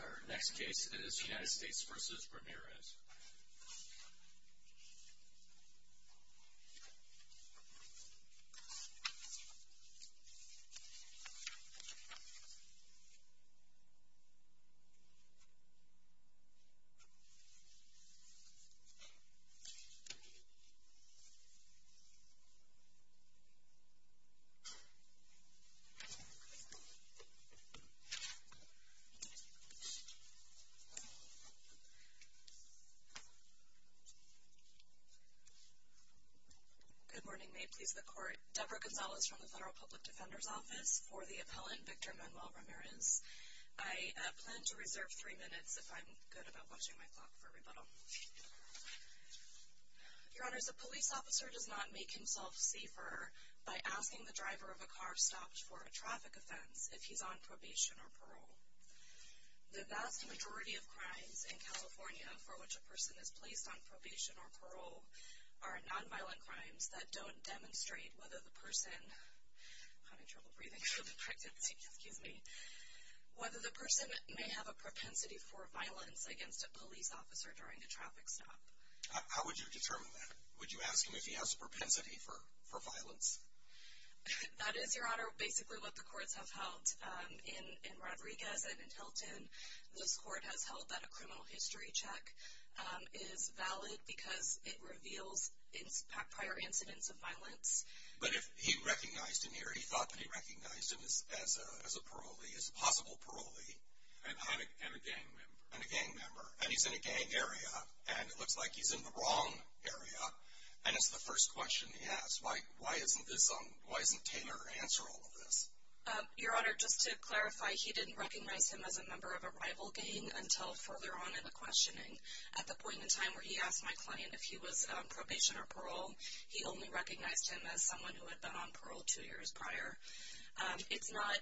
Our next case is United States v. Ramirez. Good morning. May it please the Court, Deborah Gonzalez from the Federal Public Defender's Office for the appellant Victor Manuel Ramirez. I plan to reserve three minutes if I'm good about watching my clock for rebuttal. Your Honors, a police officer does not make himself safer by asking the driver of a car stopped for a traffic offense if he's on probation or parole. The vast majority of crimes in California for which a person is placed on probation or parole are nonviolent crimes that don't demonstrate whether the person may have a propensity for violence against a police officer during a traffic offense. How would you determine that? Would you ask him if he has a propensity for violence? That is, Your Honor, basically what the courts have held in Rodriguez and Hilton. This court has held that a criminal history check is valid because it reveals prior incidents of violence. But if he recognized him here, he thought that he recognized him as a parolee, as a possible parolee. And a gang member. And he's in a gang area. And it looks like he's in the wrong area. And it's the first question he has. Why isn't Taylor answering all of this? Your Honor, just to clarify, he didn't recognize him as a member of a rival gang until further on in the questioning. At the point in time where he asked my client if he was on probation or parole, he only recognized him as someone who had been on parole two years prior. It's not,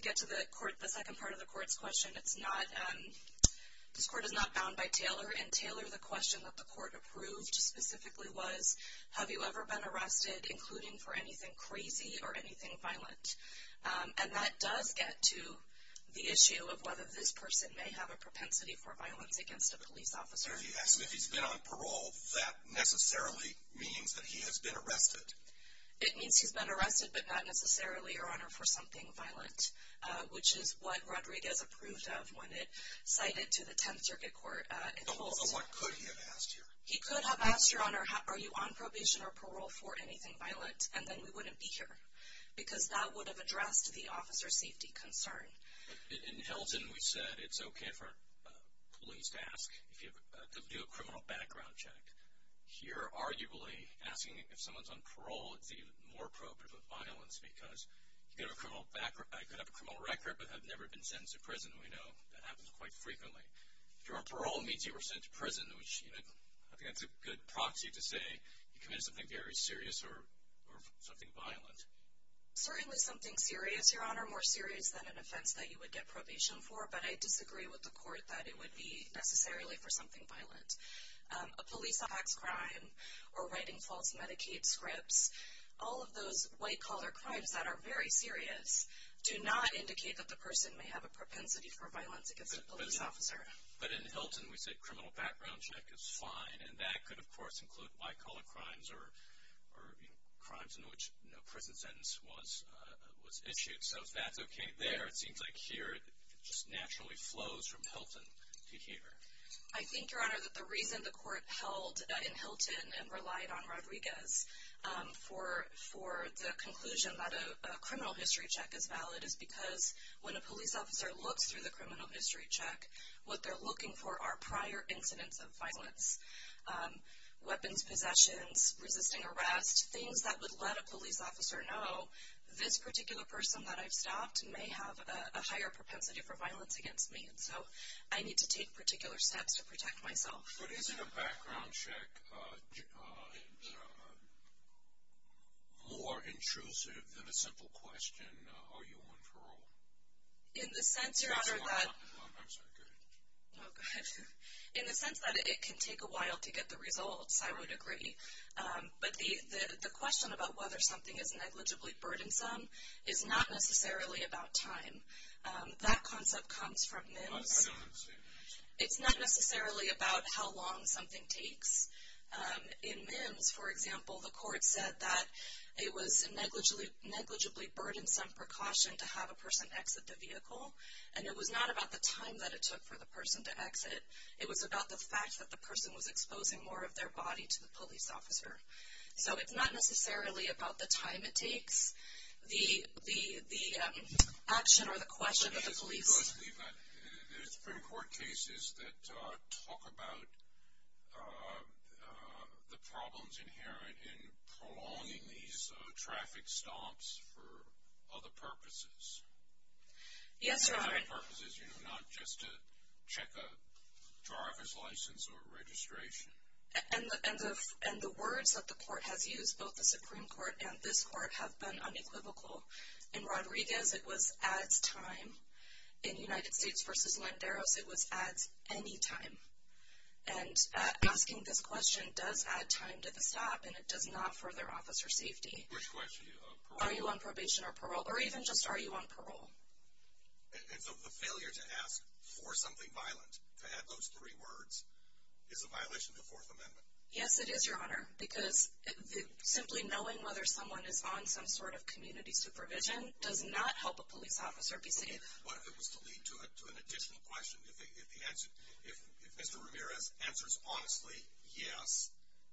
to get to the court, the second part of the court's question, it's not, this court is not bound by Taylor. And Taylor, the question that the court approved specifically was, have you ever been arrested, including for anything crazy or anything violent? And that does get to the issue of whether this person may have a propensity for violence against a police officer. If he's been on parole, that necessarily means that he has been arrested. It means he's been arrested, but not necessarily, Your Honor, for something violent. Which is what Rodriguez approved of when it cited to the Tenth Circuit Court. So what could he have asked here? He could have asked, Your Honor, are you on probation or parole for anything violent? And then we wouldn't be here. Because that would have addressed the officer safety concern. In Hilton, we said it's okay for police to ask, to do a criminal background check. Here, arguably, asking if someone's on parole, it's even more probative of violence. Because you could have a criminal record, but have never been sentenced to prison. We know that happens quite frequently. If you're on parole, it means you were sent to prison. I think that's a good proxy to say you committed something very serious or something violent. Certainly something serious, Your Honor, more serious than an offense that you would get probation for. But I disagree with the court that it would be necessarily for something violent. A police tax crime or writing false Medicaid scripts, all of those white-collar crimes that are very serious, do not indicate that the person may have a propensity for violence against a police officer. But in Hilton, we said criminal background check is fine. And that could, of course, include white-collar crimes or crimes in which no prison sentence was issued. So if that's okay there, it seems like here it just naturally flows from Hilton to here. I think, Your Honor, that the reason the court held in Hilton and relied on Rodriguez for the conclusion that a criminal history check is valid is because when a police officer looks through the criminal history check, what they're looking for are prior incidents of violence, weapons possessions, resisting arrest, things that would let a police officer know this particular person that I've stopped may have a higher propensity for violence against me. So I need to take particular steps to protect myself. But isn't a background check more intrusive than a simple question, are you on parole? In the sense, Your Honor, that... I'm sorry, go ahead. Oh, go ahead. In the sense that it can take a while to get the results, I would agree. But the question about whether something is negligibly burdensome is not necessarily about time. That concept comes from MIMS. I don't understand that. It's not necessarily about how long something takes. In MIMS, for example, the court said that it was a negligibly burdensome precaution to have a person exit the vehicle, and it was not about the time that it took for the person to exit. It was about the fact that the person was exposing more of their body to the police officer. So it's not necessarily about the time it takes, the action or the question of the police. There's been court cases that talk about the problems inherent in prolonging these traffic stops for other purposes. Yes, Your Honor. Other purposes, you know, not just to check a driver's license or registration. And the words that the court has used, both the Supreme Court and this court, have been unequivocal. In Rodriguez, it was at time. In United States v. Landeros, it was at any time. And asking this question does add time to the stop, and it does not further officer safety. Which question? Are you on probation or parole? Or even just are you on parole? And so the failure to ask for something violent, to add those three words, is a violation of the Fourth Amendment. Yes, it is, Your Honor, because simply knowing whether someone is on some sort of community supervision does not help a police officer be safe. What if it was to lead to an additional question? If Mr. Ramirez answers honestly, yes,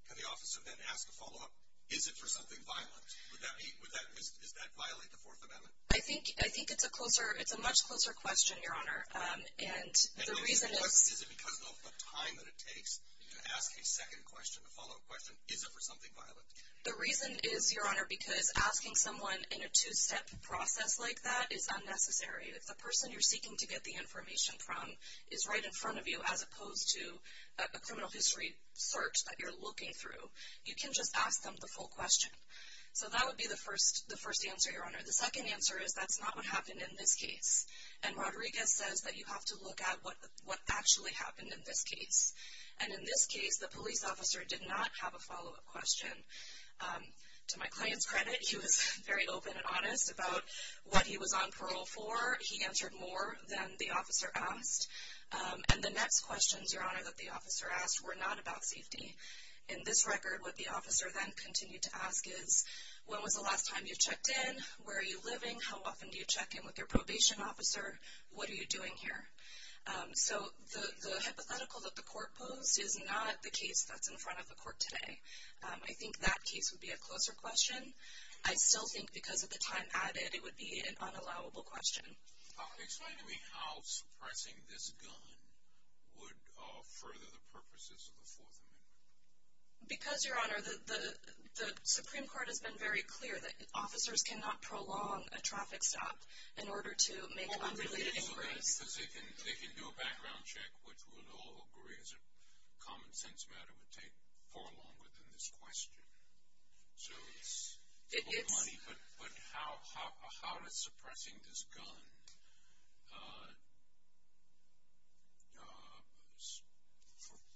can the officer then ask a follow-up, is it for something violent? Would that be, is that violate the Fourth Amendment? I think, I think it's a closer, it's a much closer question, Your Honor. And the reason is. Is it because of the time that it takes to ask a second question, a follow-up question, is it for something violent? The reason is, Your Honor, because asking someone in a two-step process like that is unnecessary. If the person you're seeking to get the information from is right in front of you, as opposed to a criminal history search that you're looking through, you can just ask them the full question. The second answer is that's not what happened in this case. And Rodriguez says that you have to look at what actually happened in this case. And in this case, the police officer did not have a follow-up question. To my client's credit, he was very open and honest about what he was on parole for. He answered more than the officer asked. And the next questions, Your Honor, that the officer asked were not about safety. In this record, what the officer then continued to ask is, when was the last time you checked in? Where are you living? How often do you check in with your probation officer? What are you doing here? So the hypothetical that the court posed is not the case that's in front of the court today. I think that case would be a closer question. I still think because of the time added, it would be an unallowable question. Explain to me how suppressing this gun would further the purposes of the Fourth Amendment. Because, Your Honor, the Supreme Court has been very clear that officers cannot prolong a traffic stop in order to make unrelated inquiries. Well, I think it's because they can do a background check, which we would all agree is a common-sense matter, would take far longer than this question. So it's money, but how is suppressing this gun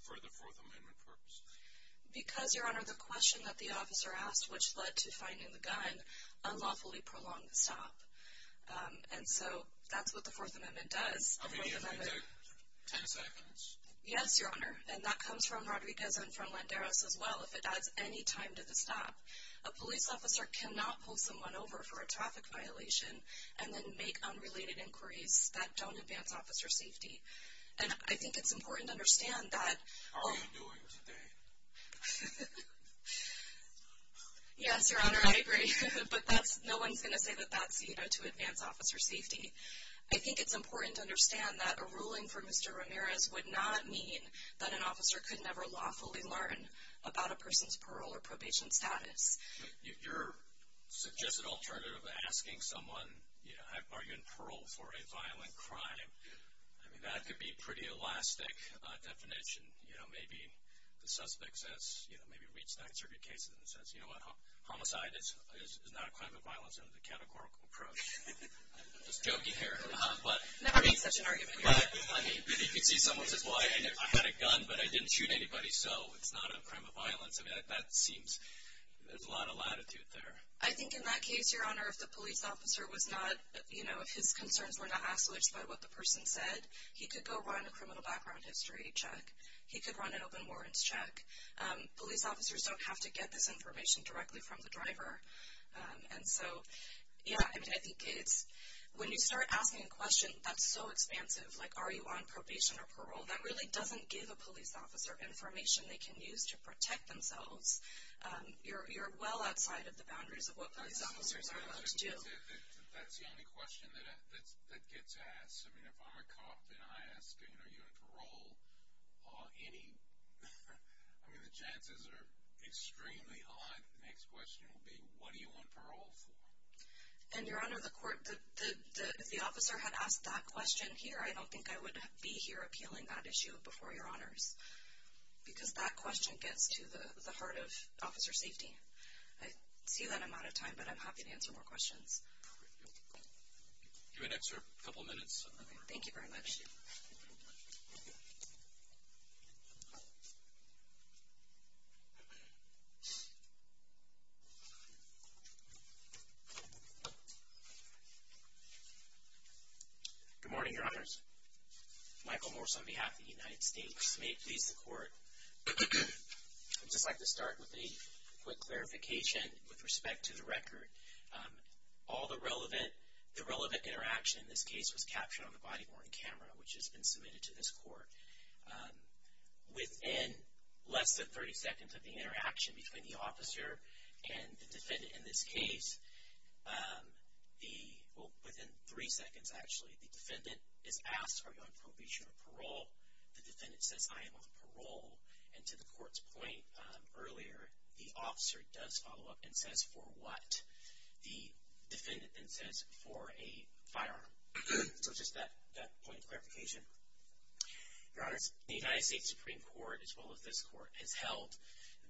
for the Fourth Amendment purpose? Because, Your Honor, the question that the officer asked, which led to finding the gun, unlawfully prolonged the stop. And so that's what the Fourth Amendment does. I'll give you another ten seconds. Yes, Your Honor. And that comes from Rodriguez and from Landeros as well, if it adds any time to the stop. A police officer cannot pull someone over for a traffic violation and then make unrelated inquiries that don't advance officer safety. And I think it's important to understand that. How are you doing today? Yes, Your Honor, I agree. But no one's going to say that that's, you know, to advance officer safety. I think it's important to understand that a ruling for Mr. Ramirez would not mean that an officer could never lawfully learn about a person's parole or probation status. Your suggested alternative of asking someone, you know, are you in parole for a violent crime, I mean, that could be a pretty elastic definition. You know, maybe the suspect says, you know, maybe reads nine circuit cases and says, you know what, homicide is not a crime of violence under the categorical approach. I'm just joking here. Never make such an argument. I mean, you could see someone says, well, I had a gun, but I didn't shoot anybody, so it's not a crime of violence. I mean, that seems, there's a lot of latitude there. I think in that case, Your Honor, if the police officer was not, you know, if his concerns were not asked, which is about what the person said, he could go run a criminal background history check. He could run an open warrants check. Police officers don't have to get this information directly from the driver. And so, yeah, I mean, I think it's, when you start asking a question that's so expansive, like are you on probation or parole, that really doesn't give a police officer information they can use to protect themselves. You're well outside of the boundaries of what police officers are allowed to do. That's the only question that gets asked. I mean, if I'm a cop and I ask, you know, are you on parole, are any, I mean, the chances are extremely high that the next question will be, what are you on parole for? And, Your Honor, the court, if the officer had asked that question here, I don't think I would be here appealing that issue before Your Honors, because that question gets to the heart of officer safety. I see that I'm out of time, but I'm happy to answer more questions. Do we have an extra couple of minutes? Thank you very much. Good morning, Your Honors. Michael Morse on behalf of the United States. May it please the court, I'd just like to start with a quick clarification with respect to the record. All the relevant, the relevant interaction in this case was captured on the body-worn camera, which has been submitted to this court. Within less than 30 seconds of the interaction between the officer and the defendant in this case, the, well, within three seconds, actually, the defendant is asked, are you on probation or parole? The defendant says, I am on parole. And to the court's point earlier, the officer does follow up and says, for what? The defendant then says, for a firearm. So just that point of clarification. Your Honors, the United States Supreme Court, as well as this court, has held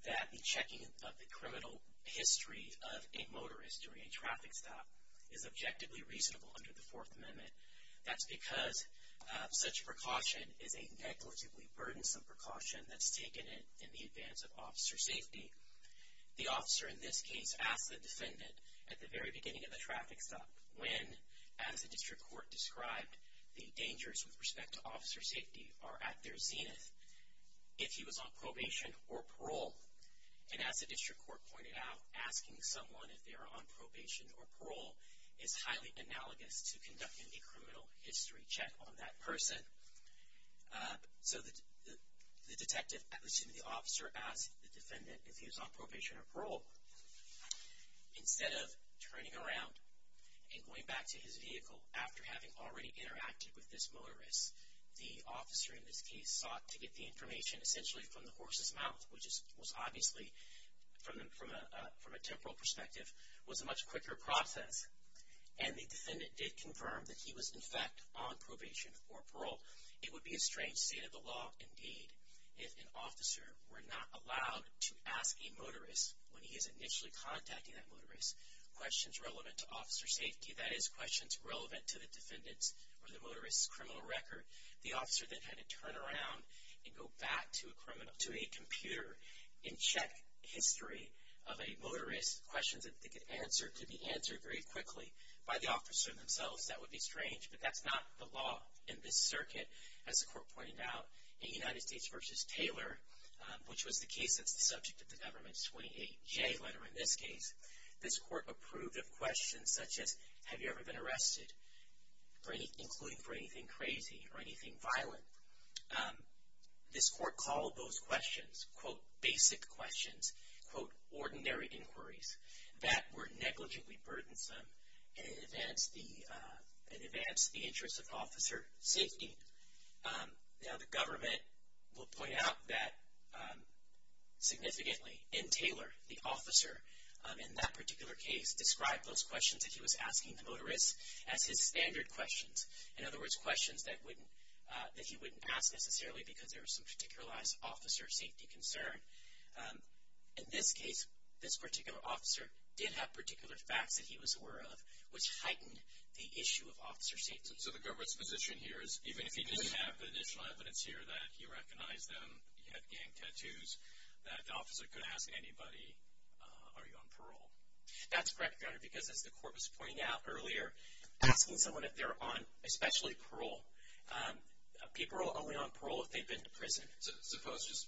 that the checking of the criminal history of a motorist during a traffic stop is objectively reasonable under the Fourth Amendment. That's because such a precaution is a negligibly burdensome precaution that's taken in the advance of officer safety. The officer in this case asked the defendant at the very beginning of the traffic stop when, as the district court described, the dangers with respect to officer safety are at their zenith, if he was on probation or parole. And as the district court pointed out, asking someone if they are on probation or parole is highly analogous to conducting a criminal history check on that person. So the detective, excuse me, the officer asked the defendant if he was on probation or parole. Instead of turning around and going back to his vehicle after having already interacted with this motorist, the officer in this case sought to get the information essentially from the horse's mouth, which was obviously, from a temporal perspective, was a much quicker process. And the defendant did confirm that he was, in fact, on probation or parole. It would be a strange state of the law, indeed, if an officer were not allowed to ask a motorist, when he is initially contacting that motorist, questions relevant to officer safety, that is, questions relevant to the defendant's or the motorist's criminal record. The officer then had to turn around and go back to a computer and check history of a motorist, questions that they could answer could be answered very quickly by the officer themselves. That would be strange, but that's not the law in this circuit, as the court pointed out. In United States v. Taylor, which was the case that's the subject of the government's 28J letter in this case, this court approved of questions such as, have you ever been arrested, including for anything crazy or anything violent? This court called those questions, quote, basic questions, quote, ordinary inquiries, that were negligibly burdensome in advance of the interest of officer safety. Now, the government will point out that, significantly, in Taylor, the officer, in that particular case, described those questions that he was asking the motorist as his standard questions, in other words, questions that he wouldn't ask necessarily because there was some particular officer safety concern. In this case, this particular officer did have particular facts that he was aware of, which heightened the issue of officer safety. So the government's position here is, even if he didn't have the initial evidence here, that he recognized them, he had gang tattoos, that the officer could ask anybody, are you on parole? That's correct, Your Honor, because as the court was pointing out earlier, asking someone if they're on, especially parole, people are only on parole if they've been to prison. So suppose, just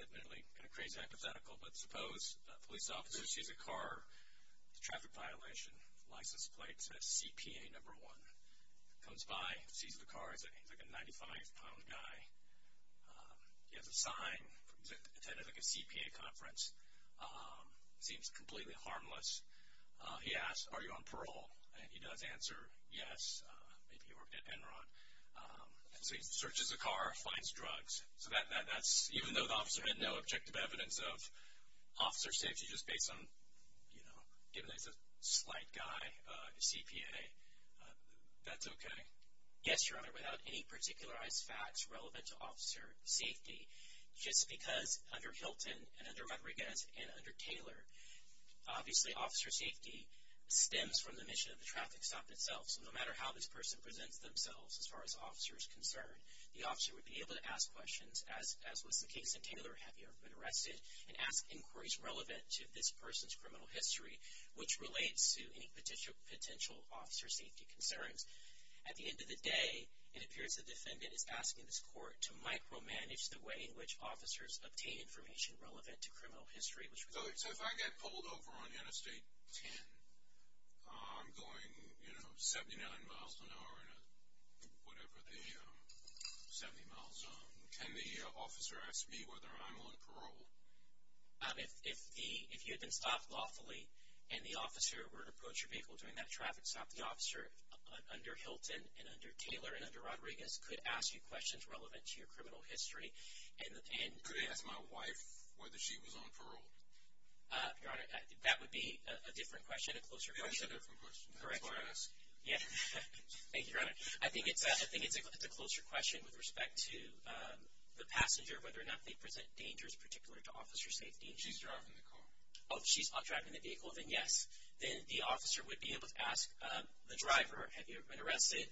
admittedly, kind of crazy hypothetical, but suppose a police officer sees a car, it's a traffic violation, license plate says CPA number one, comes by, sees the car, he's like a 95-pound guy, he has a sign, attended like a CPA conference, seems completely harmless. He asks, are you on parole? And he does answer, yes, maybe he worked at Enron. So he searches the car, finds drugs. So that's, even though the officer had no objective evidence of officer safety, just based on, you know, given that he's a slight guy, a CPA, that's okay. Yes, Your Honor, without any particularized facts relevant to officer safety, just because under Hilton and under Rodriguez and under Taylor, obviously officer safety stems from the mission of the traffic stop itself. So no matter how this person presents themselves as far as the officer is concerned, the officer would be able to ask questions, as was the case in Taylor, have you ever been arrested, and ask inquiries relevant to this person's criminal history, which relates to any potential officer safety concerns. At the end of the day, it appears the defendant is asking this court to micromanage the way in which officers obtain information relevant to criminal history. So if I get pulled over on Interstate 10, I'm going, you know, 79 miles an hour, whatever the 70 miles, can the officer ask me whether I'm on parole? If you had been stopped lawfully and the officer were to approach your vehicle during that traffic stop, the officer under Hilton and under Taylor and under Rodriguez could ask you questions relevant to your criminal history. Could he ask my wife whether she was on parole? Your Honor, that would be a different question, a closer question. That's a different question. That's what I'm asking. Yeah. Thank you, Your Honor. I think it's a closer question with respect to the passenger, whether or not they present dangers particular to officer safety. She's driving the car. Oh, she's driving the vehicle, then yes. Then the officer would be able to ask the driver, have you ever been arrested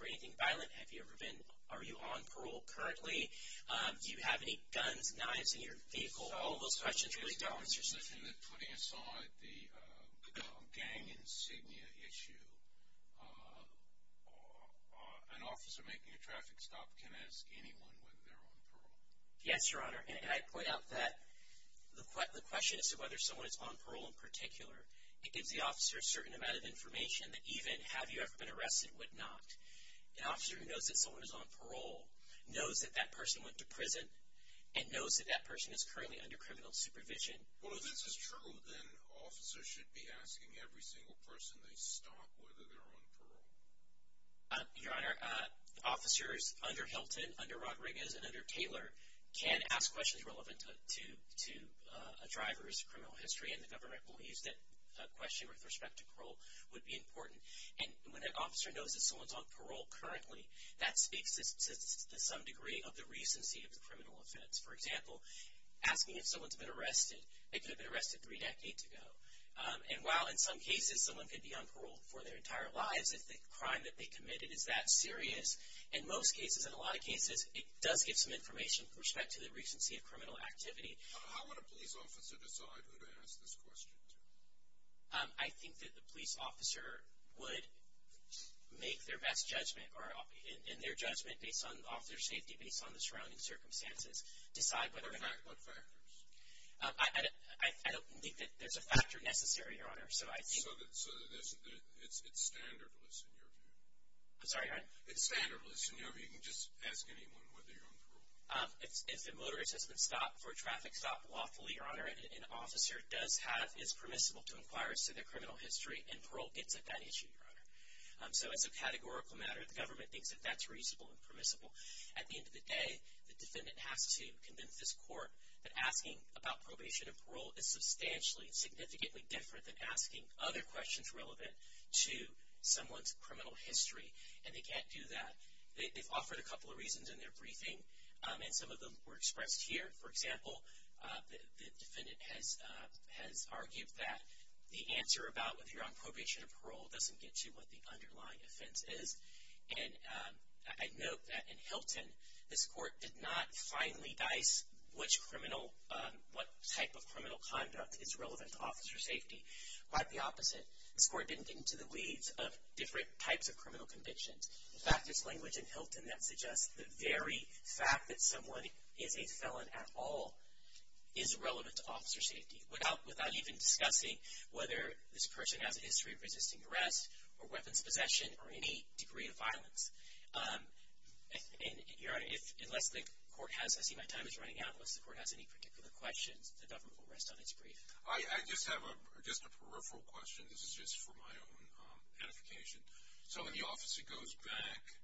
for anything violent, have you ever been, are you on parole currently, do you have any guns, knives in your vehicle, all of those questions really don't answer safety. Putting aside the gang insignia issue, an officer making a traffic stop can ask anyone whether they're on parole. Yes, Your Honor. And I point out that the question as to whether someone is on parole in particular, it gives the officer a certain amount of information that even have you ever been arrested would not. An officer who knows that someone is on parole knows that that person went to prison and knows that that person is currently under criminal supervision. Well, if this is true, then officers should be asking every single person they stop whether they're on parole. Your Honor, officers under Hilton, under Rodriguez, and under Taylor can ask questions relevant to a driver's criminal history, and the government believes that a question with respect to parole would be important. And when an officer knows that someone is on parole currently, that speaks to some degree of the recency of the criminal offense. For example, asking if someone has been arrested, they could have been arrested three decades ago. And while in some cases someone could be on parole for their entire lives if the crime that they committed is that serious, in most cases, in a lot of cases, it does give some information with respect to the recency of criminal activity. How would a police officer decide who to ask this question to? I think that the police officer would make their best judgment, and their judgment based on the officer's safety, based on the surrounding circumstances, decide whether or not- What factors? I don't think that there's a factor necessary, Your Honor, so I think- So it's standardless in your view? I'm sorry, your Honor? It's standardless in your view? You can just ask anyone whether you're on parole. If a motorist has been stopped for a traffic stop lawfully, Your Honor, an officer does have- is permissible to inquire as to their criminal history, and parole gets at that issue, Your Honor. So as a categorical matter, the government thinks that that's reasonable and permissible. At the end of the day, the defendant has to convince this court that asking about probation and parole is substantially, significantly different than asking other questions relevant to someone's criminal history, and they can't do that. They've offered a couple of reasons in their briefing, and some of them were expressed here. For example, the defendant has argued that the answer about whether you're on probation or parole doesn't get to what the underlying offense is. And I note that in Hilton, this court did not finely dice which criminal- what type of criminal conduct is relevant to officer safety. Quite the opposite. This court didn't get into the weeds of different types of criminal convictions. In fact, there's language in Hilton that suggests the very fact that someone is a felon at all is relevant to officer safety, without even discussing whether this person has a history of resisting arrest or weapons possession or any degree of violence. And, Your Honor, unless the court has- I see my time is running out. Unless the court has any particular questions, the government will rest on its brief. I just have a- just a peripheral question. This is just for my own edification. So when the officer goes back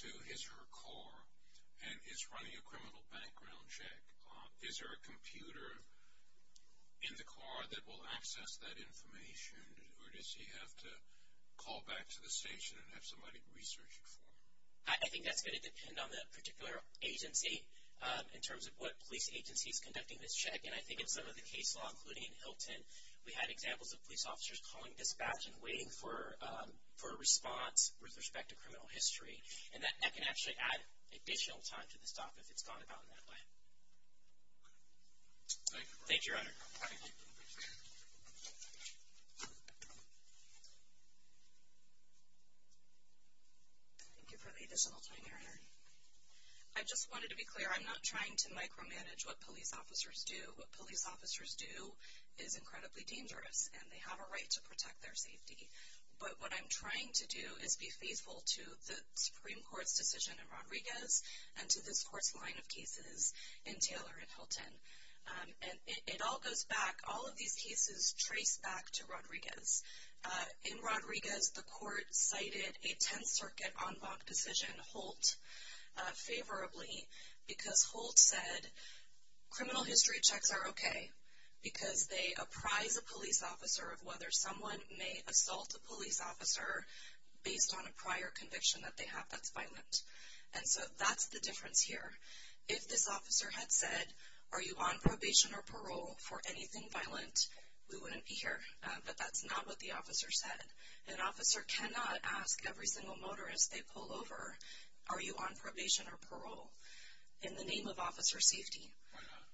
to his or her car and is running a criminal background check, is there a computer in the car that will access that information, or does he have to call back to the station and have somebody research it for him? I think that's going to depend on the particular agency in terms of what police agency is conducting this check. And I think in some of the case law, including in Hilton, we had examples of police officers calling dispatch and waiting for a response with respect to criminal history. And that can actually add additional time to the stop if it's gone about in that way. Thank you, Your Honor. Thank you for the additional time, Your Honor. I just wanted to be clear. I'm not trying to micromanage what police officers do. What police officers do is incredibly dangerous, and they have a right to protect their safety. But what I'm trying to do is be faithful to the Supreme Court's decision in Rodriguez and to this court's line of cases in Taylor and Hilton. And it all goes back- all of these cases trace back to Rodriguez. In Rodriguez, the court cited a Tenth Circuit en banc decision, Holt, favorably, because Holt said criminal history checks are okay because they apprise a police officer of whether someone may assault a police officer based on a prior conviction that they have that's violent. And so that's the difference here. If this officer had said, are you on probation or parole for anything violent, we wouldn't be here. But that's not what the officer said. An officer cannot ask every single motorist they pull over, are you on probation or parole, in the name of officer safety. Why not?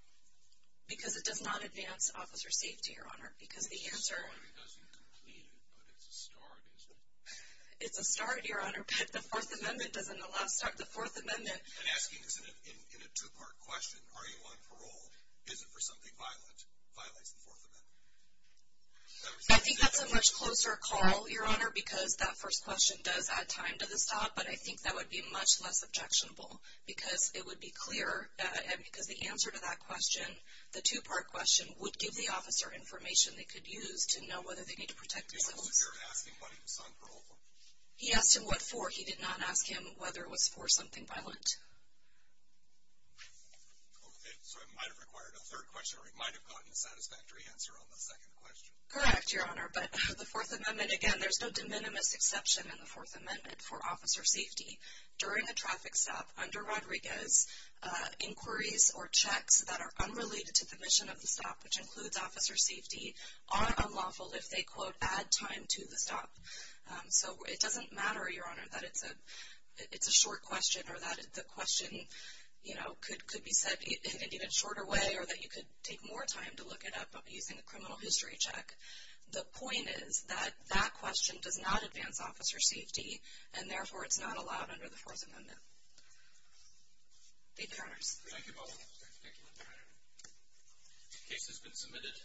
Because it does not advance officer safety, Your Honor, because the answer- It doesn't complete it, but it's a start, isn't it? It's a start, Your Honor, but the Fourth Amendment doesn't allow start. The Fourth Amendment- And asking this in a two-part question, are you on parole, is it for something violent, violates the Fourth Amendment. I think that's a much closer call, Your Honor, because that first question does add time to the stop, but I think that would be much less objectionable because it would be clearer, and because the answer to that question, the two-part question, would give the officer information they could use to know whether they need to protect themselves. He wasn't here asking whether he was on parole. He asked him what for. He did not ask him whether it was for something violent. Okay, so it might have required a third question, or it might have gotten a satisfactory answer on the second question. Correct, Your Honor, but the Fourth Amendment, again, there's no de minimis exception in the Fourth Amendment for officer safety. During a traffic stop, under Rodriguez, inquiries or checks that are unrelated to the mission of the stop, which includes officer safety, are unlawful if they, quote, add time to the stop. So it doesn't matter, Your Honor, that it's a short question or that the question, you know, could be said in an even shorter way or that you could take more time to look it up using a criminal history check. The point is that that question does not advance officer safety, and therefore it's not allowed under the Fourth Amendment. Thank you, Your Honors. Thank you both. Thank you. The case has been submitted.